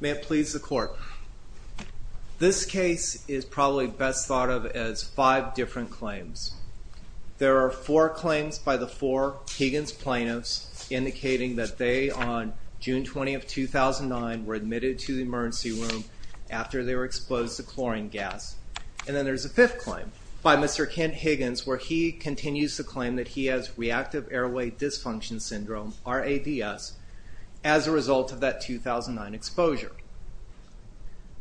May it please the court. This case is probably best thought of as five different claims. There are four claims by the four Higgins plaintiffs indicating that they on June 20 of 2009 were admitted to the emergency room after they were exposed to chlorine gas. And then there's a fifth claim by Mr. Kent Higgins where he continues to claim that he has reactive airway dysfunction syndrome, RADS, as a result of that 2009 exposure.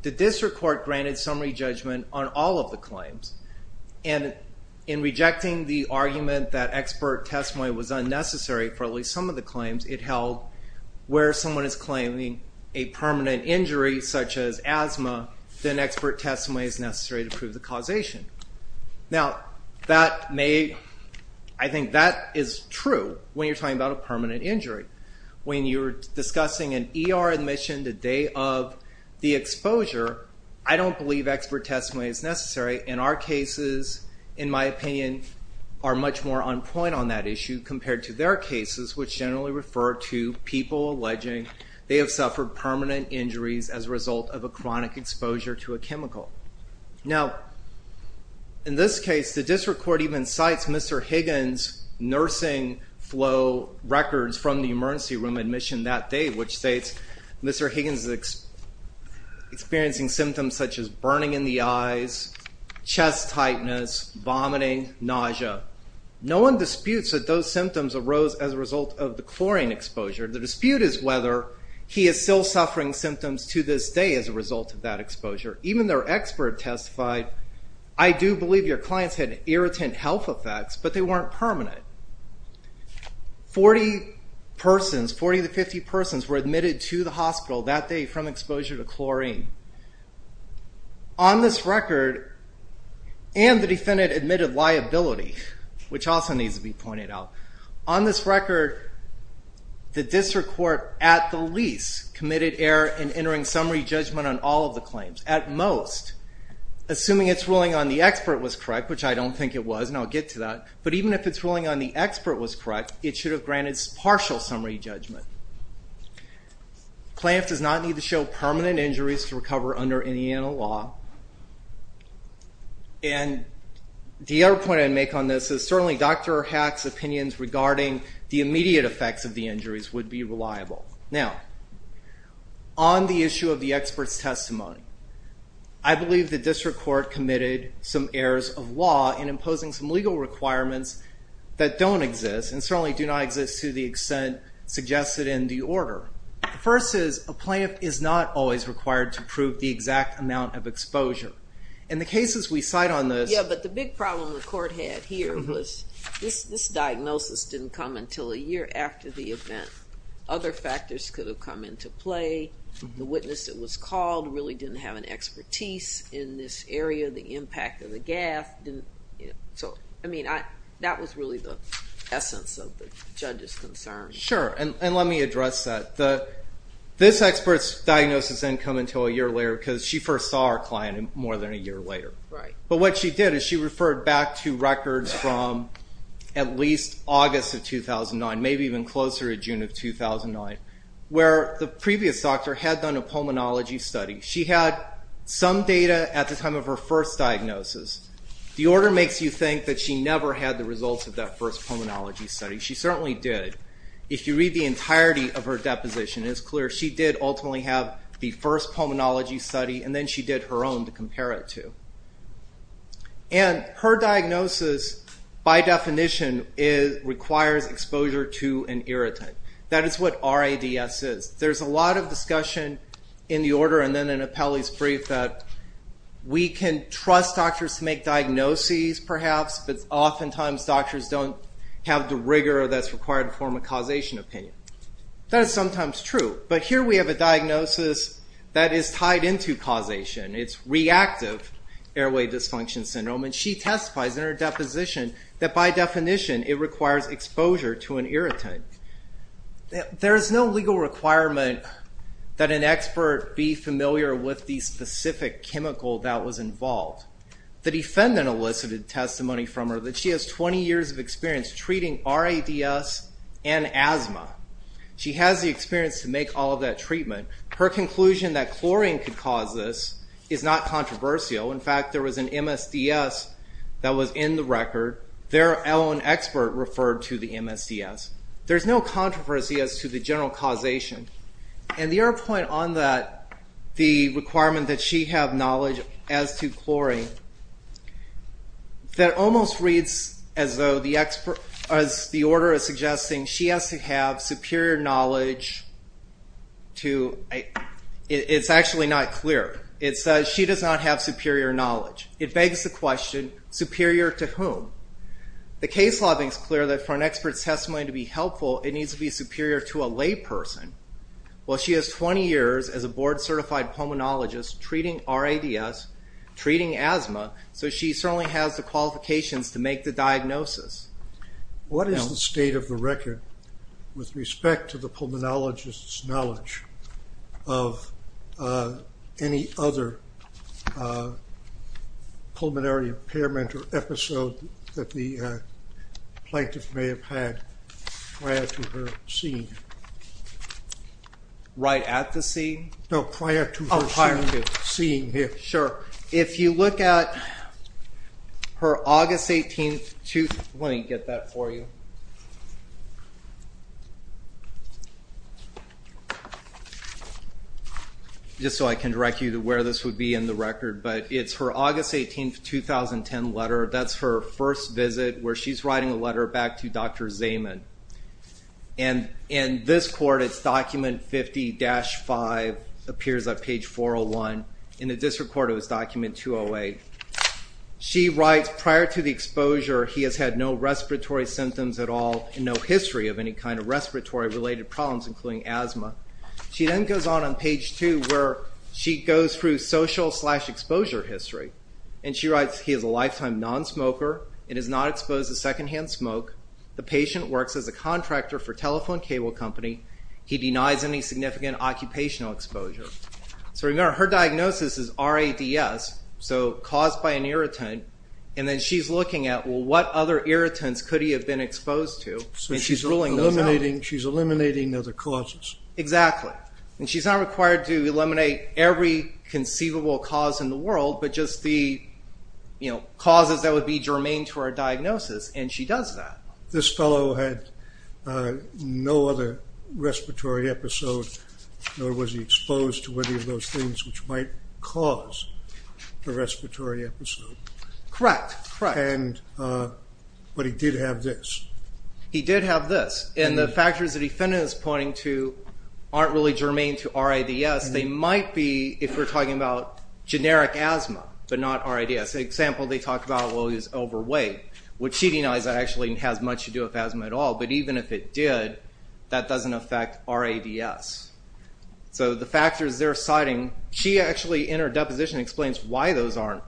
The district court granted summary judgment on all of the claims and in rejecting the argument that expert testimony was unnecessary for at least some of the claims it held where someone is claiming a permanent injury such as asthma, then expert testimony is necessary to prove the causation. Now I think that is true when you're talking about a permanent injury. When you're discussing an ER admission the day of the exposure, I don't believe expert testimony is necessary. In our point on that issue compared to their cases which generally refer to people alleging they have suffered permanent injuries as a result of a chronic exposure to a chemical. Now in this case the district court even cites Mr. Higgins nursing flow records from the emergency room admission that day which states Mr. Higgins is experiencing symptoms such as burning in the eyes, chest tightness, vomiting, nausea. No one disputes that those symptoms arose as a result of the chlorine exposure. The dispute is whether he is still suffering symptoms to this day as a result of that exposure. Even their expert testified, I do believe your clients had irritant health effects but they weren't permanent. 40 persons, 40 to 50 persons were admitted to the hospital that day from exposure to chlorine. On this record, and the defendant admitted liability which also needs to be pointed out, on this record the district court at the least committed error in entering summary judgment on all of the claims. At most, assuming it's ruling on the expert was correct, which I don't think it was and I'll get to that, but even if it's ruling on the expert was correct it should have granted partial summary judgment. The plaintiff does not need to show permanent injuries to recover under Indiana law and the other point I'd make on this is certainly Dr. Hack's opinions regarding the immediate effects of the injuries would be reliable. Now on the issue of the experts testimony, I believe the district court committed some errors of law in imposing some legal requirements that don't exist and certainly do not exist to the extent suggested in the order. First is, a plaintiff is not always required to prove the exact amount of exposure. In the cases we cite on this... Yeah, but the big problem the court had here was this diagnosis didn't come until a year after the event. Other factors could have come into play. The witness that was called really didn't have an expertise in this area. The impact of the gaffe didn't, so I mean that was really the essence of the judge's concern. Sure, and let me address that. This expert's diagnosis didn't come until a year later because she first saw our client more than a year later, but what she did is she referred back to records from at least August of 2009, maybe even closer to June of 2009, where the previous doctor had done a pulmonology study. She had some data at the time of her first diagnosis. The order makes you think that she never had the results of that first pulmonology study. She certainly did. If you read the entirety of her deposition, it is clear she did ultimately have the first pulmonology study and then she did her own to compare it to. And her diagnosis, by definition, requires exposure to an irritant. That is what RADS is. There's a lot of discussion in the order and then in Apelli's brief that we can trust doctors to make diagnoses, perhaps, but oftentimes doctors don't have the rigor that's required to form a causation opinion. That is sometimes true, but here we have a diagnosis that is tied into causation. It's reactive airway dysfunction syndrome and she testifies in her deposition that by definition it an expert be familiar with the specific chemical that was involved. The defendant elicited testimony from her that she has 20 years of experience treating RADS and asthma. She has the experience to make all of that treatment. Her conclusion that chlorine could cause this is not controversial. In fact, there was an MSDS that was in the record. Their own expert referred to the MSDS. There's no controversy as to the general causation. And the other point on that, the requirement that she have knowledge as to chlorine, that almost reads as though the order is suggesting she has to have superior knowledge. It's actually not clear. It says she does not have superior knowledge. It begs the question, superior to whom? The case law makes clear that for an expert's testimony to be helpful, it needs to be superior to a layperson. Well, she has 20 years as a board-certified pulmonologist treating RADS, treating asthma, so she certainly has the qualifications to make the diagnosis. What is the state of the record with respect to the pulmonologist's knowledge of any other pulmonary impairment or episode that the plaintiff may have had prior to her seeing? Right at the scene? No, prior to her seeing here. Sure. If you look at her August 18th... Let me get that for you. Just so I can direct you to where this would be in the record, but it's her August 18th, 2010 letter. That's her first visit where she's writing a letter back to Dr. Zaman. And in this court, it's document 50-5, appears on page 401. In the district court, it was document 208. She writes, prior to the exposure, he has had no respiratory symptoms at all and no history of any kind of respiratory- related problems, including asthma. She then goes on on page 2 where she goes through social exposure history. And she writes, he is a lifetime non-smoker and has not exposed to secondhand smoke. The patient works as a contractor for telephone cable company. He denies any significant occupational exposure. So remember, her diagnosis is RADS, so caused by an irritant. And then she's looking at, what other irritants could he have been exposed to? So she's eliminating other causes. Exactly. And she's not required to eliminate every conceivable cause in the world, but just the, you know, causes that would be germane to our diagnosis. And she does that. This fellow had no other respiratory episode, nor was he exposed to any of those things which might cause a respiratory episode. Correct, correct. And, but he did have this. He did have this. And the factors the defendant is pointing to aren't really germane to RADS. They might be, if we're talking about generic asthma, but not RADS. Example, they talk about, well he's overweight, which she denies that actually has much to do with asthma at all. But even if it did, that doesn't affect RADS. So the factors they're deposition explains why those aren't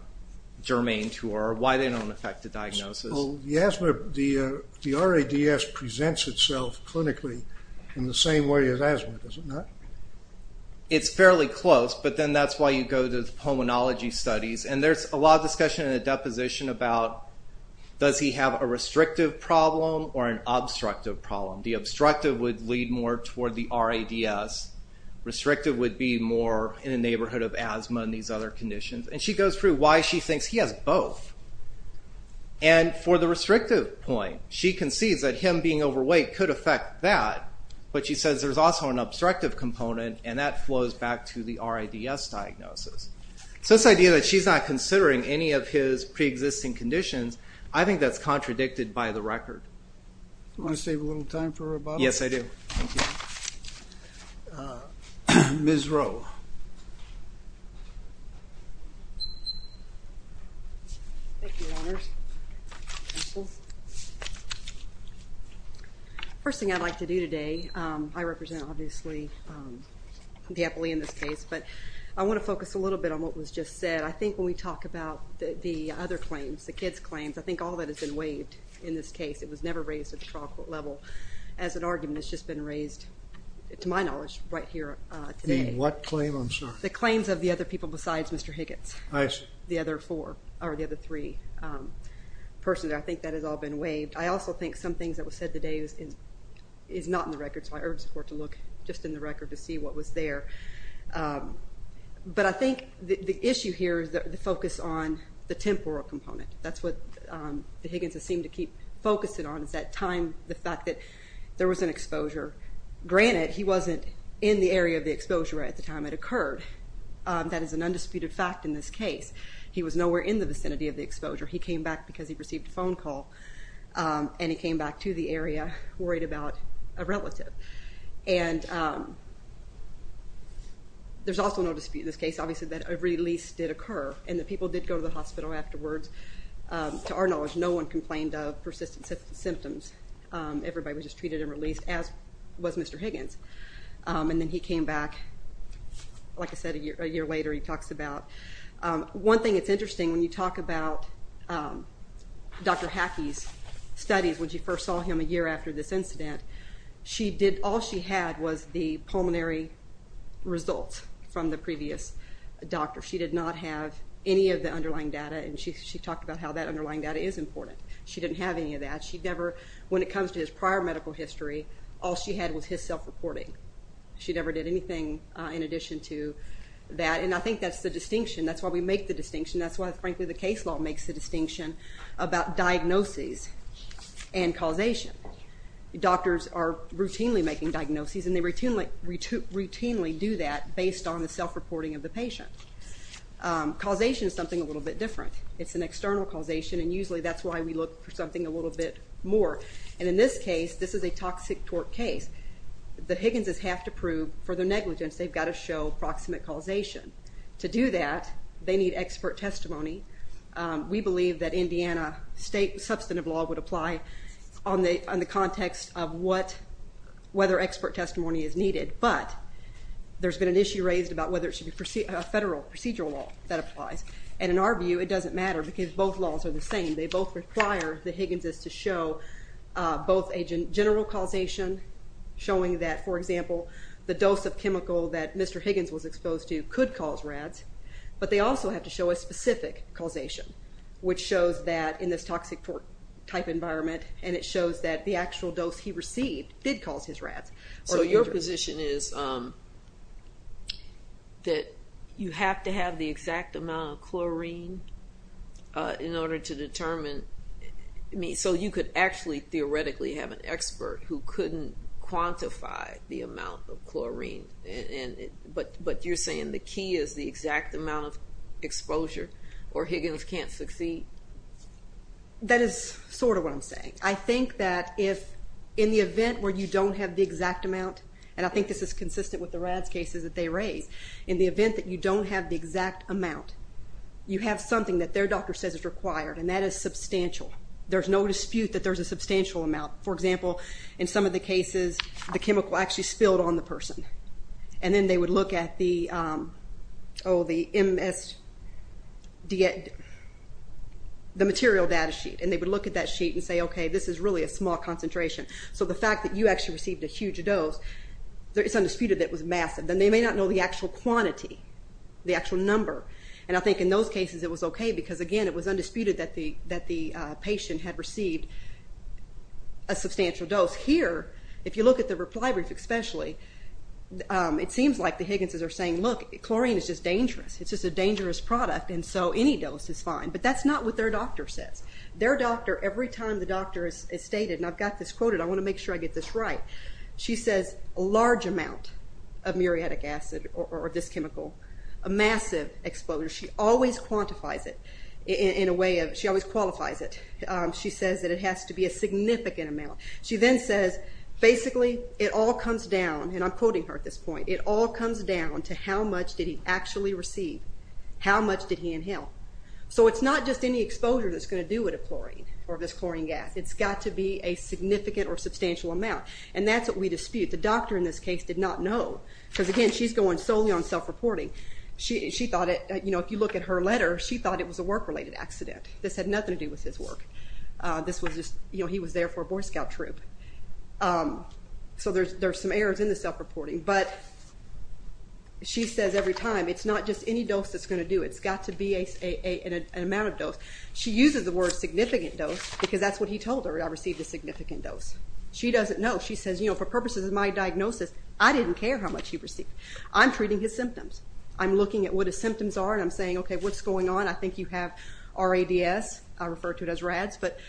germane to her, why they don't affect the diagnosis. The RADS presents itself clinically in the same way as asthma, does it not? It's fairly close, but then that's why you go to the pulmonology studies. And there's a lot of discussion in the deposition about, does he have a restrictive problem or an obstructive problem? The obstructive would lead more toward the RADS. Restrictive would be more in a these other conditions. And she goes through why she thinks he has both. And for the restrictive point, she concedes that him being overweight could affect that, but she says there's also an obstructive component and that flows back to the RADS diagnosis. So this idea that she's not considering any of his pre-existing conditions, I think that's contradicted by the record. Want to save a little time for rebuttals? Yes, I do. Ms. Rowe. First thing I'd like to do today, I represent obviously the epile in this case, but I want to focus a little bit on what was just said. I think when we talk about the other claims, the kids claims, I think all that has been waived in this case. It was never raised at the trial court level as an argument. It's just been raised, to my knowledge, right here today. In what claim, I'm sorry? The claims of the other people besides Mr. Higgins. I see. The other four or the other three persons. I think that has all been waived. I also think some things that was said today is not in the record, so I urge the court to look just in the record to see what was there. But I think the issue here is the focus on the temporal component. That's what the time, the fact that there was an exposure. Granted, he wasn't in the area of the exposure at the time it occurred. That is an undisputed fact in this case. He was nowhere in the vicinity of the exposure. He came back because he received a phone call and he came back to the area worried about a relative. And there's also no dispute in this case, obviously, that a release did occur and the people did go to the hospital afterwards. To our knowledge, no one complained of persistent symptoms. Everybody was just treated and released, as was Mr. Higgins. And then he came back, like I said, a year later, he talks about. One thing that's interesting when you talk about Dr. Hackey's studies, when she first saw him a year after this incident, she did, all she had was the pulmonary results from the previous doctor. She did not have any of the underlying data and she talked about how that underlying data is important. She didn't have any of that. She never, when it comes to his prior medical history, all she had was his self-reporting. She never did anything in addition to that and I think that's the distinction. That's why we make the distinction. That's why, frankly, the case law makes the distinction about diagnoses and causation. Doctors are routinely making diagnoses and they routinely do that based on the self-reporting of the patient. Causation is something a little bit different. It's an external causation and usually that's why we look for something a little bit more. And in this case, this is a toxic tort case. The Higgins's have to prove for their negligence, they've got to show proximate causation. To do that, they need expert testimony. We believe that Indiana state substantive law would apply on the context of whether expert testimony is needed, but there's been an issue raised about whether it should be a federal procedural law that applies. And in our view, it doesn't matter because both laws are the same. They both require the Higgins's to show both a general causation, showing that, for example, the dose of chemical that Mr. Higgins was exposed to could cause RADS, but they also have to show a specific causation, which shows that in this toxic tort type environment and it shows that the actual dose he received did cause his RADS. So your position is that you have to have the exact amount of chlorine in order to determine, I mean, so you could actually theoretically have an expert who couldn't quantify the amount of chlorine, but you're saying the key is the exact amount of exposure or Higgins can't succeed? That is sort of what I'm saying. I think that if in the event where you don't have the exact amount, and I think this is consistent with the RADS cases that they raise, in the event that you don't have the exact amount, you have something that their doctor says is required and that is substantial. There's no dispute that there's a substantial amount. For example, in some of the cases, the chemical actually spilled on the person and then they would look at the, oh, the MS, the material data sheet and they would look at that sheet and say, okay, this is really a small concentration. So the fact that you actually received a huge dose, it's undisputed that was massive. Then they may not know the actual quantity, the actual number, and I think in those cases it was okay because, again, it was undisputed that the patient had received a substantial dose. Here, if you look at the reply brief especially, it seems like the Higgins's are saying, look, chlorine is just dangerous. It's just a dangerous product and so any dose is fine, but that's not what their doctor says. Their doctor, every time the doctor has stated, and I've got this quoted, I want to make sure I get this right. She says a large amount of muriatic acid or this chemical, a massive exposure. She always quantifies it in a way of, she always qualifies it. She says that it has to be a significant amount. She then says, basically, it all comes down, and I'm quoting her at this point, it all comes down to how much did he actually receive, how much did he inhale. So it's not just any exposure that's going to do with a chlorine or this chlorine gas. It's got to be a significant or substantial amount, and that's what we dispute. The doctor, in this case, did not know because, again, she's going solely on self-reporting. She thought it, you know, if you look at her letter, she thought it was a work-related accident. This had nothing to do with his work. This was just, you know, he was there for a Boy Scout troop. So there's some errors in the self-reporting, but she says every time it's not just any dose that's going to do. It's got to be an amount of dose. She uses the word significant dose because that's what he told her, I received a significant dose. She doesn't know. She says, you know, for purposes of my diagnosis, I didn't care how much he received. I'm treating his symptoms. I'm looking at what his symptoms are, and I'm saying, okay, what's going on? I think you have RADS. I refer to it as RADS, but,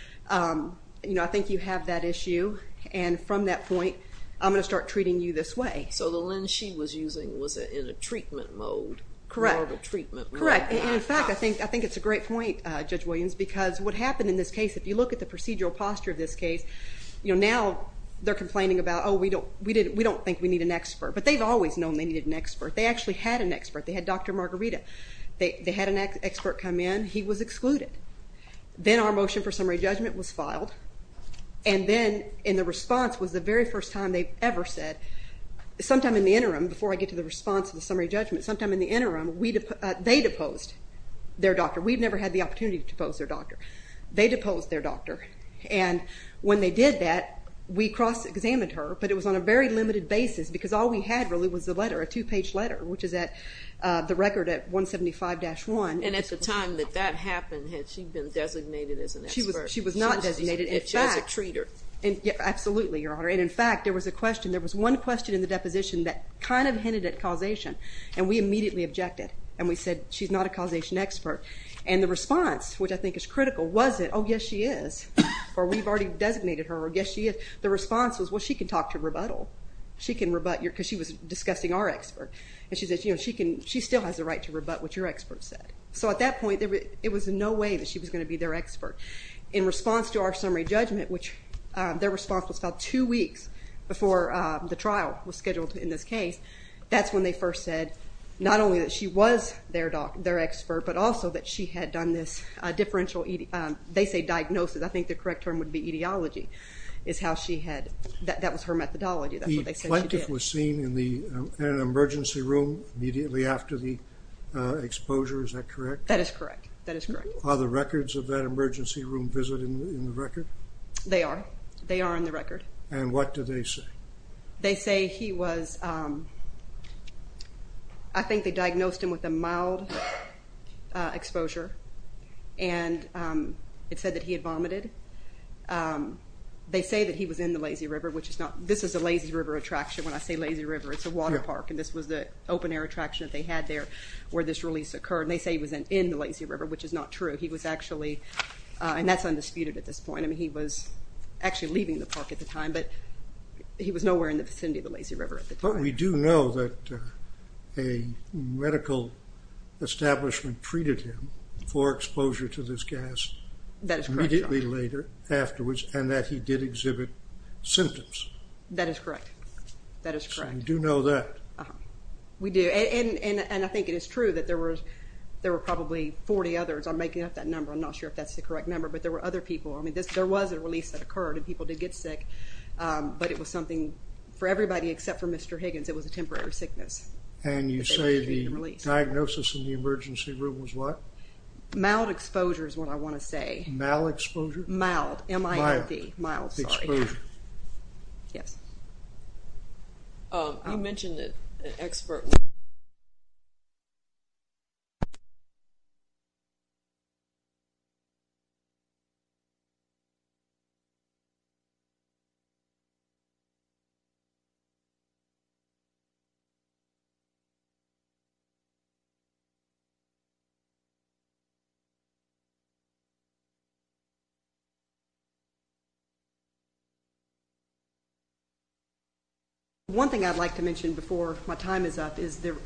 you know, I think you have that issue, and from that point, I'm going to start treating you this way. So the lens she was using was in a treatment mode. Correct. In fact, I think it's a great point, Judge Williams, because what happened in this case, if you look at the procedural posture of this case, you know, now they're complaining about, oh, we don't, we didn't, we don't think we need an expert, but they've always known they needed an expert. They actually had an expert. They had Dr. Margarita. They had an expert come in. He was excluded. Then our motion for summary judgment was filed, and then, in the response, was the very first time they've ever said, sometime in the interim, before I get to the response of the summary judgment, sometime in the interim, they deposed their doctor. We've never had the opportunity to depose their doctor. They deposed their doctor, and when they did that, we cross-examined her, but it was on a very limited basis, because all we had really was the letter, a two-page letter, which is at the record at 175-1. And at the time that that happened, had she been designated as an expert? She was not designated. She was a treater. Absolutely, Your Honor, and in fact, there was a question, there was one question in the deposition that kind of hinted at causation, and we immediately objected, and we said, she's not a causation expert, and the response, which I think is critical, wasn't, oh yes, she is, or we've already designated her, or yes, she is. The response was, well, she can talk to rebuttal. She can rebut your, because she was discussing our expert, and she says, you know, she can, she still has the right to rebut what your expert said. So at that point, it was in no way that she was going to be their expert. In response to our summary judgment, which their response was about two weeks before the trial was scheduled in this case, that's when they first said, not only that she was their expert, but also that she had done this differential, they say diagnosis, I think the correct term would be etiology, is how she had, that was her methodology, that's what they said she did. The plaintiff was seen in an emergency room immediately after the exposure, is that correct? That is correct, that is correct. Are the records of that emergency room visit in the record? They are, they are in the record. And what do they say? They say he was, I think they diagnosed him with a mild exposure, and it said that he had vomited. They say that he was in the Lazy River, which is not, this is a Lazy River attraction, when I say Lazy River, it's a water park, and this was the open-air attraction that they had there where this release occurred, and they say he was in the Lazy River, which is not true. He was actually, and that's undisputed at this point, I mean he was actually leaving the park at the time, but he was nowhere in the vicinity of the Lazy River. The local establishment treated him for exposure to this gas immediately later, afterwards, and that he did exhibit symptoms. That is correct, that is correct. So you do know that? We do, and I think it is true that there were probably 40 others, I'm making up that number, I'm not sure if that's the correct number, but there were other people, I mean there was a release that occurred and people did get sick, but it was something for everybody except for one. The diagnosis in the emergency room was what? Mild exposure is what I want to say. Mal exposure? Mild, M-I-L-D. Mild exposure. Yes. You mentioned an expert... One thing I'd like to mention before my time is up is the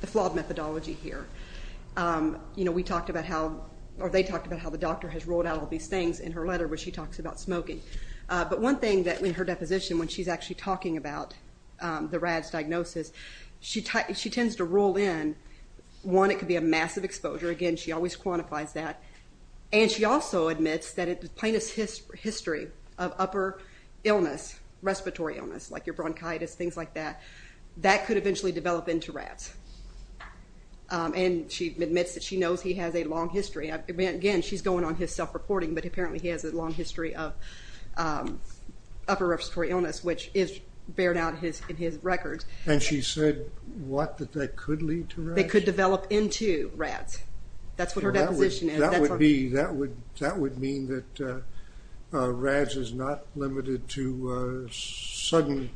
flawed methodology here. You know we talked about how, or they talked about how the doctor has ruled out all these things in her letter where she talks about smoking, but one thing that in her deposition when she's actually talking about the rad's in, one it could be a massive exposure, again she always quantifies that, and she also admits that it's the plainest history of upper illness, respiratory illness, like your bronchitis, things like that, that could eventually develop into rads. And she admits that she knows he has a long history, again she's going on his self-reporting, but apparently he has a long history of upper respiratory illness, which is bared out in his records. And she said what that they could lead to. They could develop into rads. That's what her deposition is. That would be, that would that would mean that rads is not limited to sudden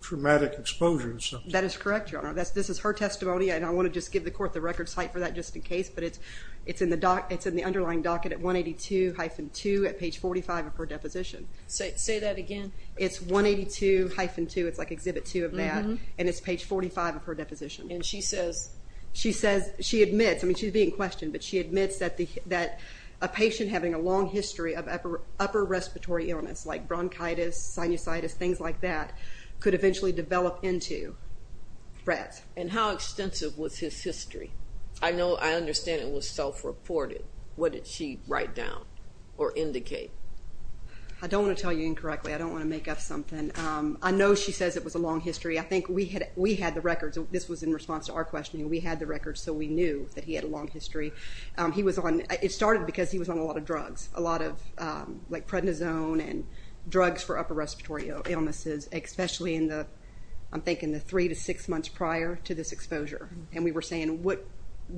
traumatic exposure. That is correct, your honor. This is her testimony and I want to just give the court the record site for that just in case, but it's in the underlying docket at 182-2 at page 45 of her deposition. Say that again. It's 182-2, it's like exhibit 2 of that, and it's page 45 of her and she says she admits, I mean she's being questioned, but she admits that a patient having a long history of upper respiratory illness, like bronchitis, sinusitis, things like that, could eventually develop into rads. And how extensive was his history? I know, I understand it was self-reported. What did she write down or indicate? I don't want to tell you incorrectly. I don't want to make up something. I know she says it was a long history. I think we had the records. This was in response to our questioning. We had the records, so we knew that he had a long history. He was on, it started because he was on a lot of drugs, a lot of like prednisone and drugs for upper respiratory illnesses, especially in the, I'm thinking the three to six months prior to this exposure, and we were saying what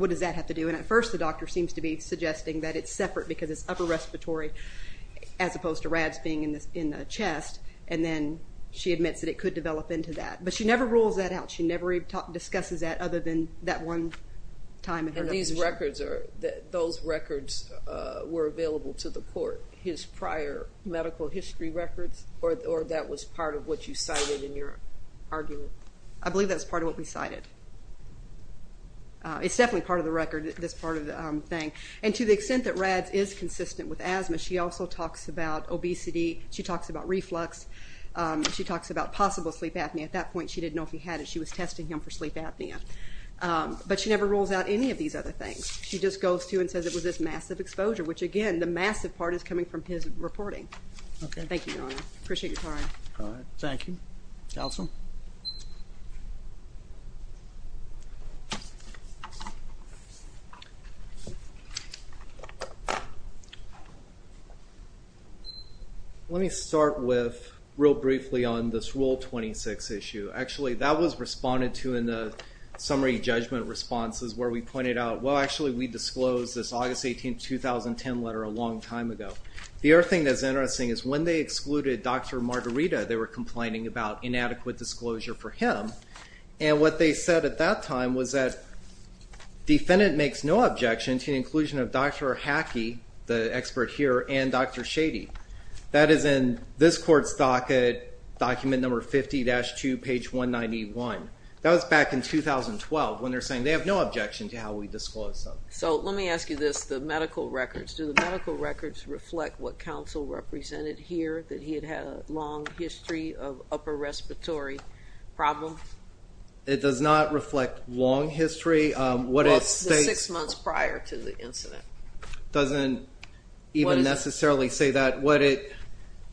does that have to do? And at first the doctor seems to be suggesting that it's separate because it's upper respiratory as opposed to rads being in the chest, and then she admits that it could develop into that, but she never rules that out. She never discusses that other than that one time. And these records, those records were available to the court, his prior medical history records, or that was part of what you cited in your argument? I believe that's part of what we cited. It's definitely part of the record, this part of the thing, and to the extent that rads is consistent with asthma, she also talks about obesity. She talks about reflux. She talks about possible sleep apnea. At that point she didn't know if he had it. She was testing him for sleep apnea, but she never rules out any of these other things. She just goes to and says it was this massive exposure, which again, the massive part is coming from his reporting. Thank you, Your Honor. Appreciate your time. Thank you. Counsel? Let me start with, real briefly, on this Rule 26 issue. Actually that was responded to in the summary judgment responses where we pointed out, well actually we disclosed this August 18, 2010 letter a long time ago. The other thing that's interesting is when they excluded Dr. Margarita, they were disclosure for him, and what they said at that time was that defendant makes no objection to the inclusion of Dr. Hackey, the expert here, and Dr. Shady. That is in this court's docket, document number 50-2, page 191. That was back in 2012 when they're saying they have no objection to how we disclosed them. So let me ask you this, the medical records. Do the medical records reflect what counsel represented here, that he had had a long history of upper respiratory problem? It does not reflect long history. Six months prior to the incident. Doesn't even necessarily say that.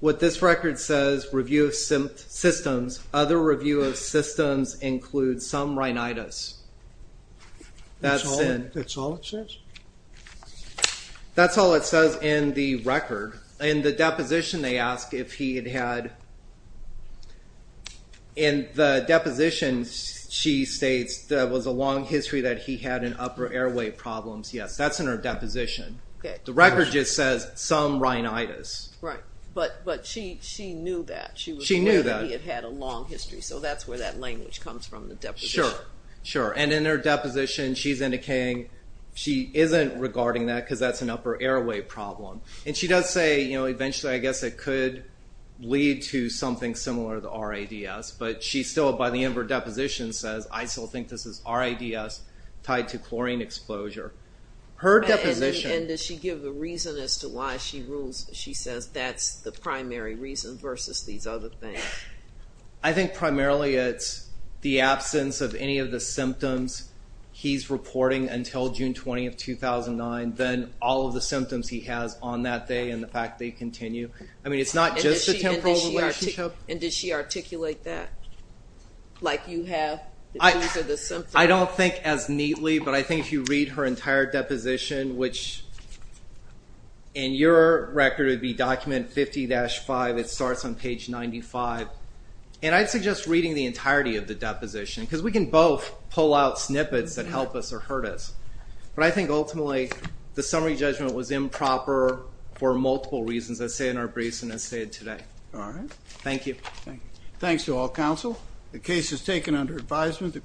What this record says, review of systems, other review of systems include some rhinitis. That's all it says? That's all it says in the record. In the deposition they ask if he had had, in the deposition she states there was a long history that he had an upper airway problems. Yes, that's in her deposition. The record just says some rhinitis. Right, but she knew that. She knew that he had had a long history, so that's where that language comes from, the deposition. Sure, sure, and in her deposition she isn't regarding that because that's an upper airway problem, and she does say, you know, eventually I guess it could lead to something similar to RADS, but she still by the end of her deposition says, I still think this is RADS tied to chlorine exposure. Her deposition... And does she give a reason as to why she rules, she says that's the primary reason versus these other things? I think primarily it's the 2009, then all of the symptoms he has on that day, and the fact they continue. I mean, it's not just a temporal relationship. And did she articulate that? Like you have, that these are the symptoms? I don't think as neatly, but I think if you read her entire deposition, which in your record would be document 50-5, it starts on page 95, and I'd suggest reading the entirety of the deposition, because we can both pull out that ultimately the summary judgment was improper for multiple reasons that say in our briefs and as stated today. All right. Thank you. Thanks to all counsel. The case is taken under advisement.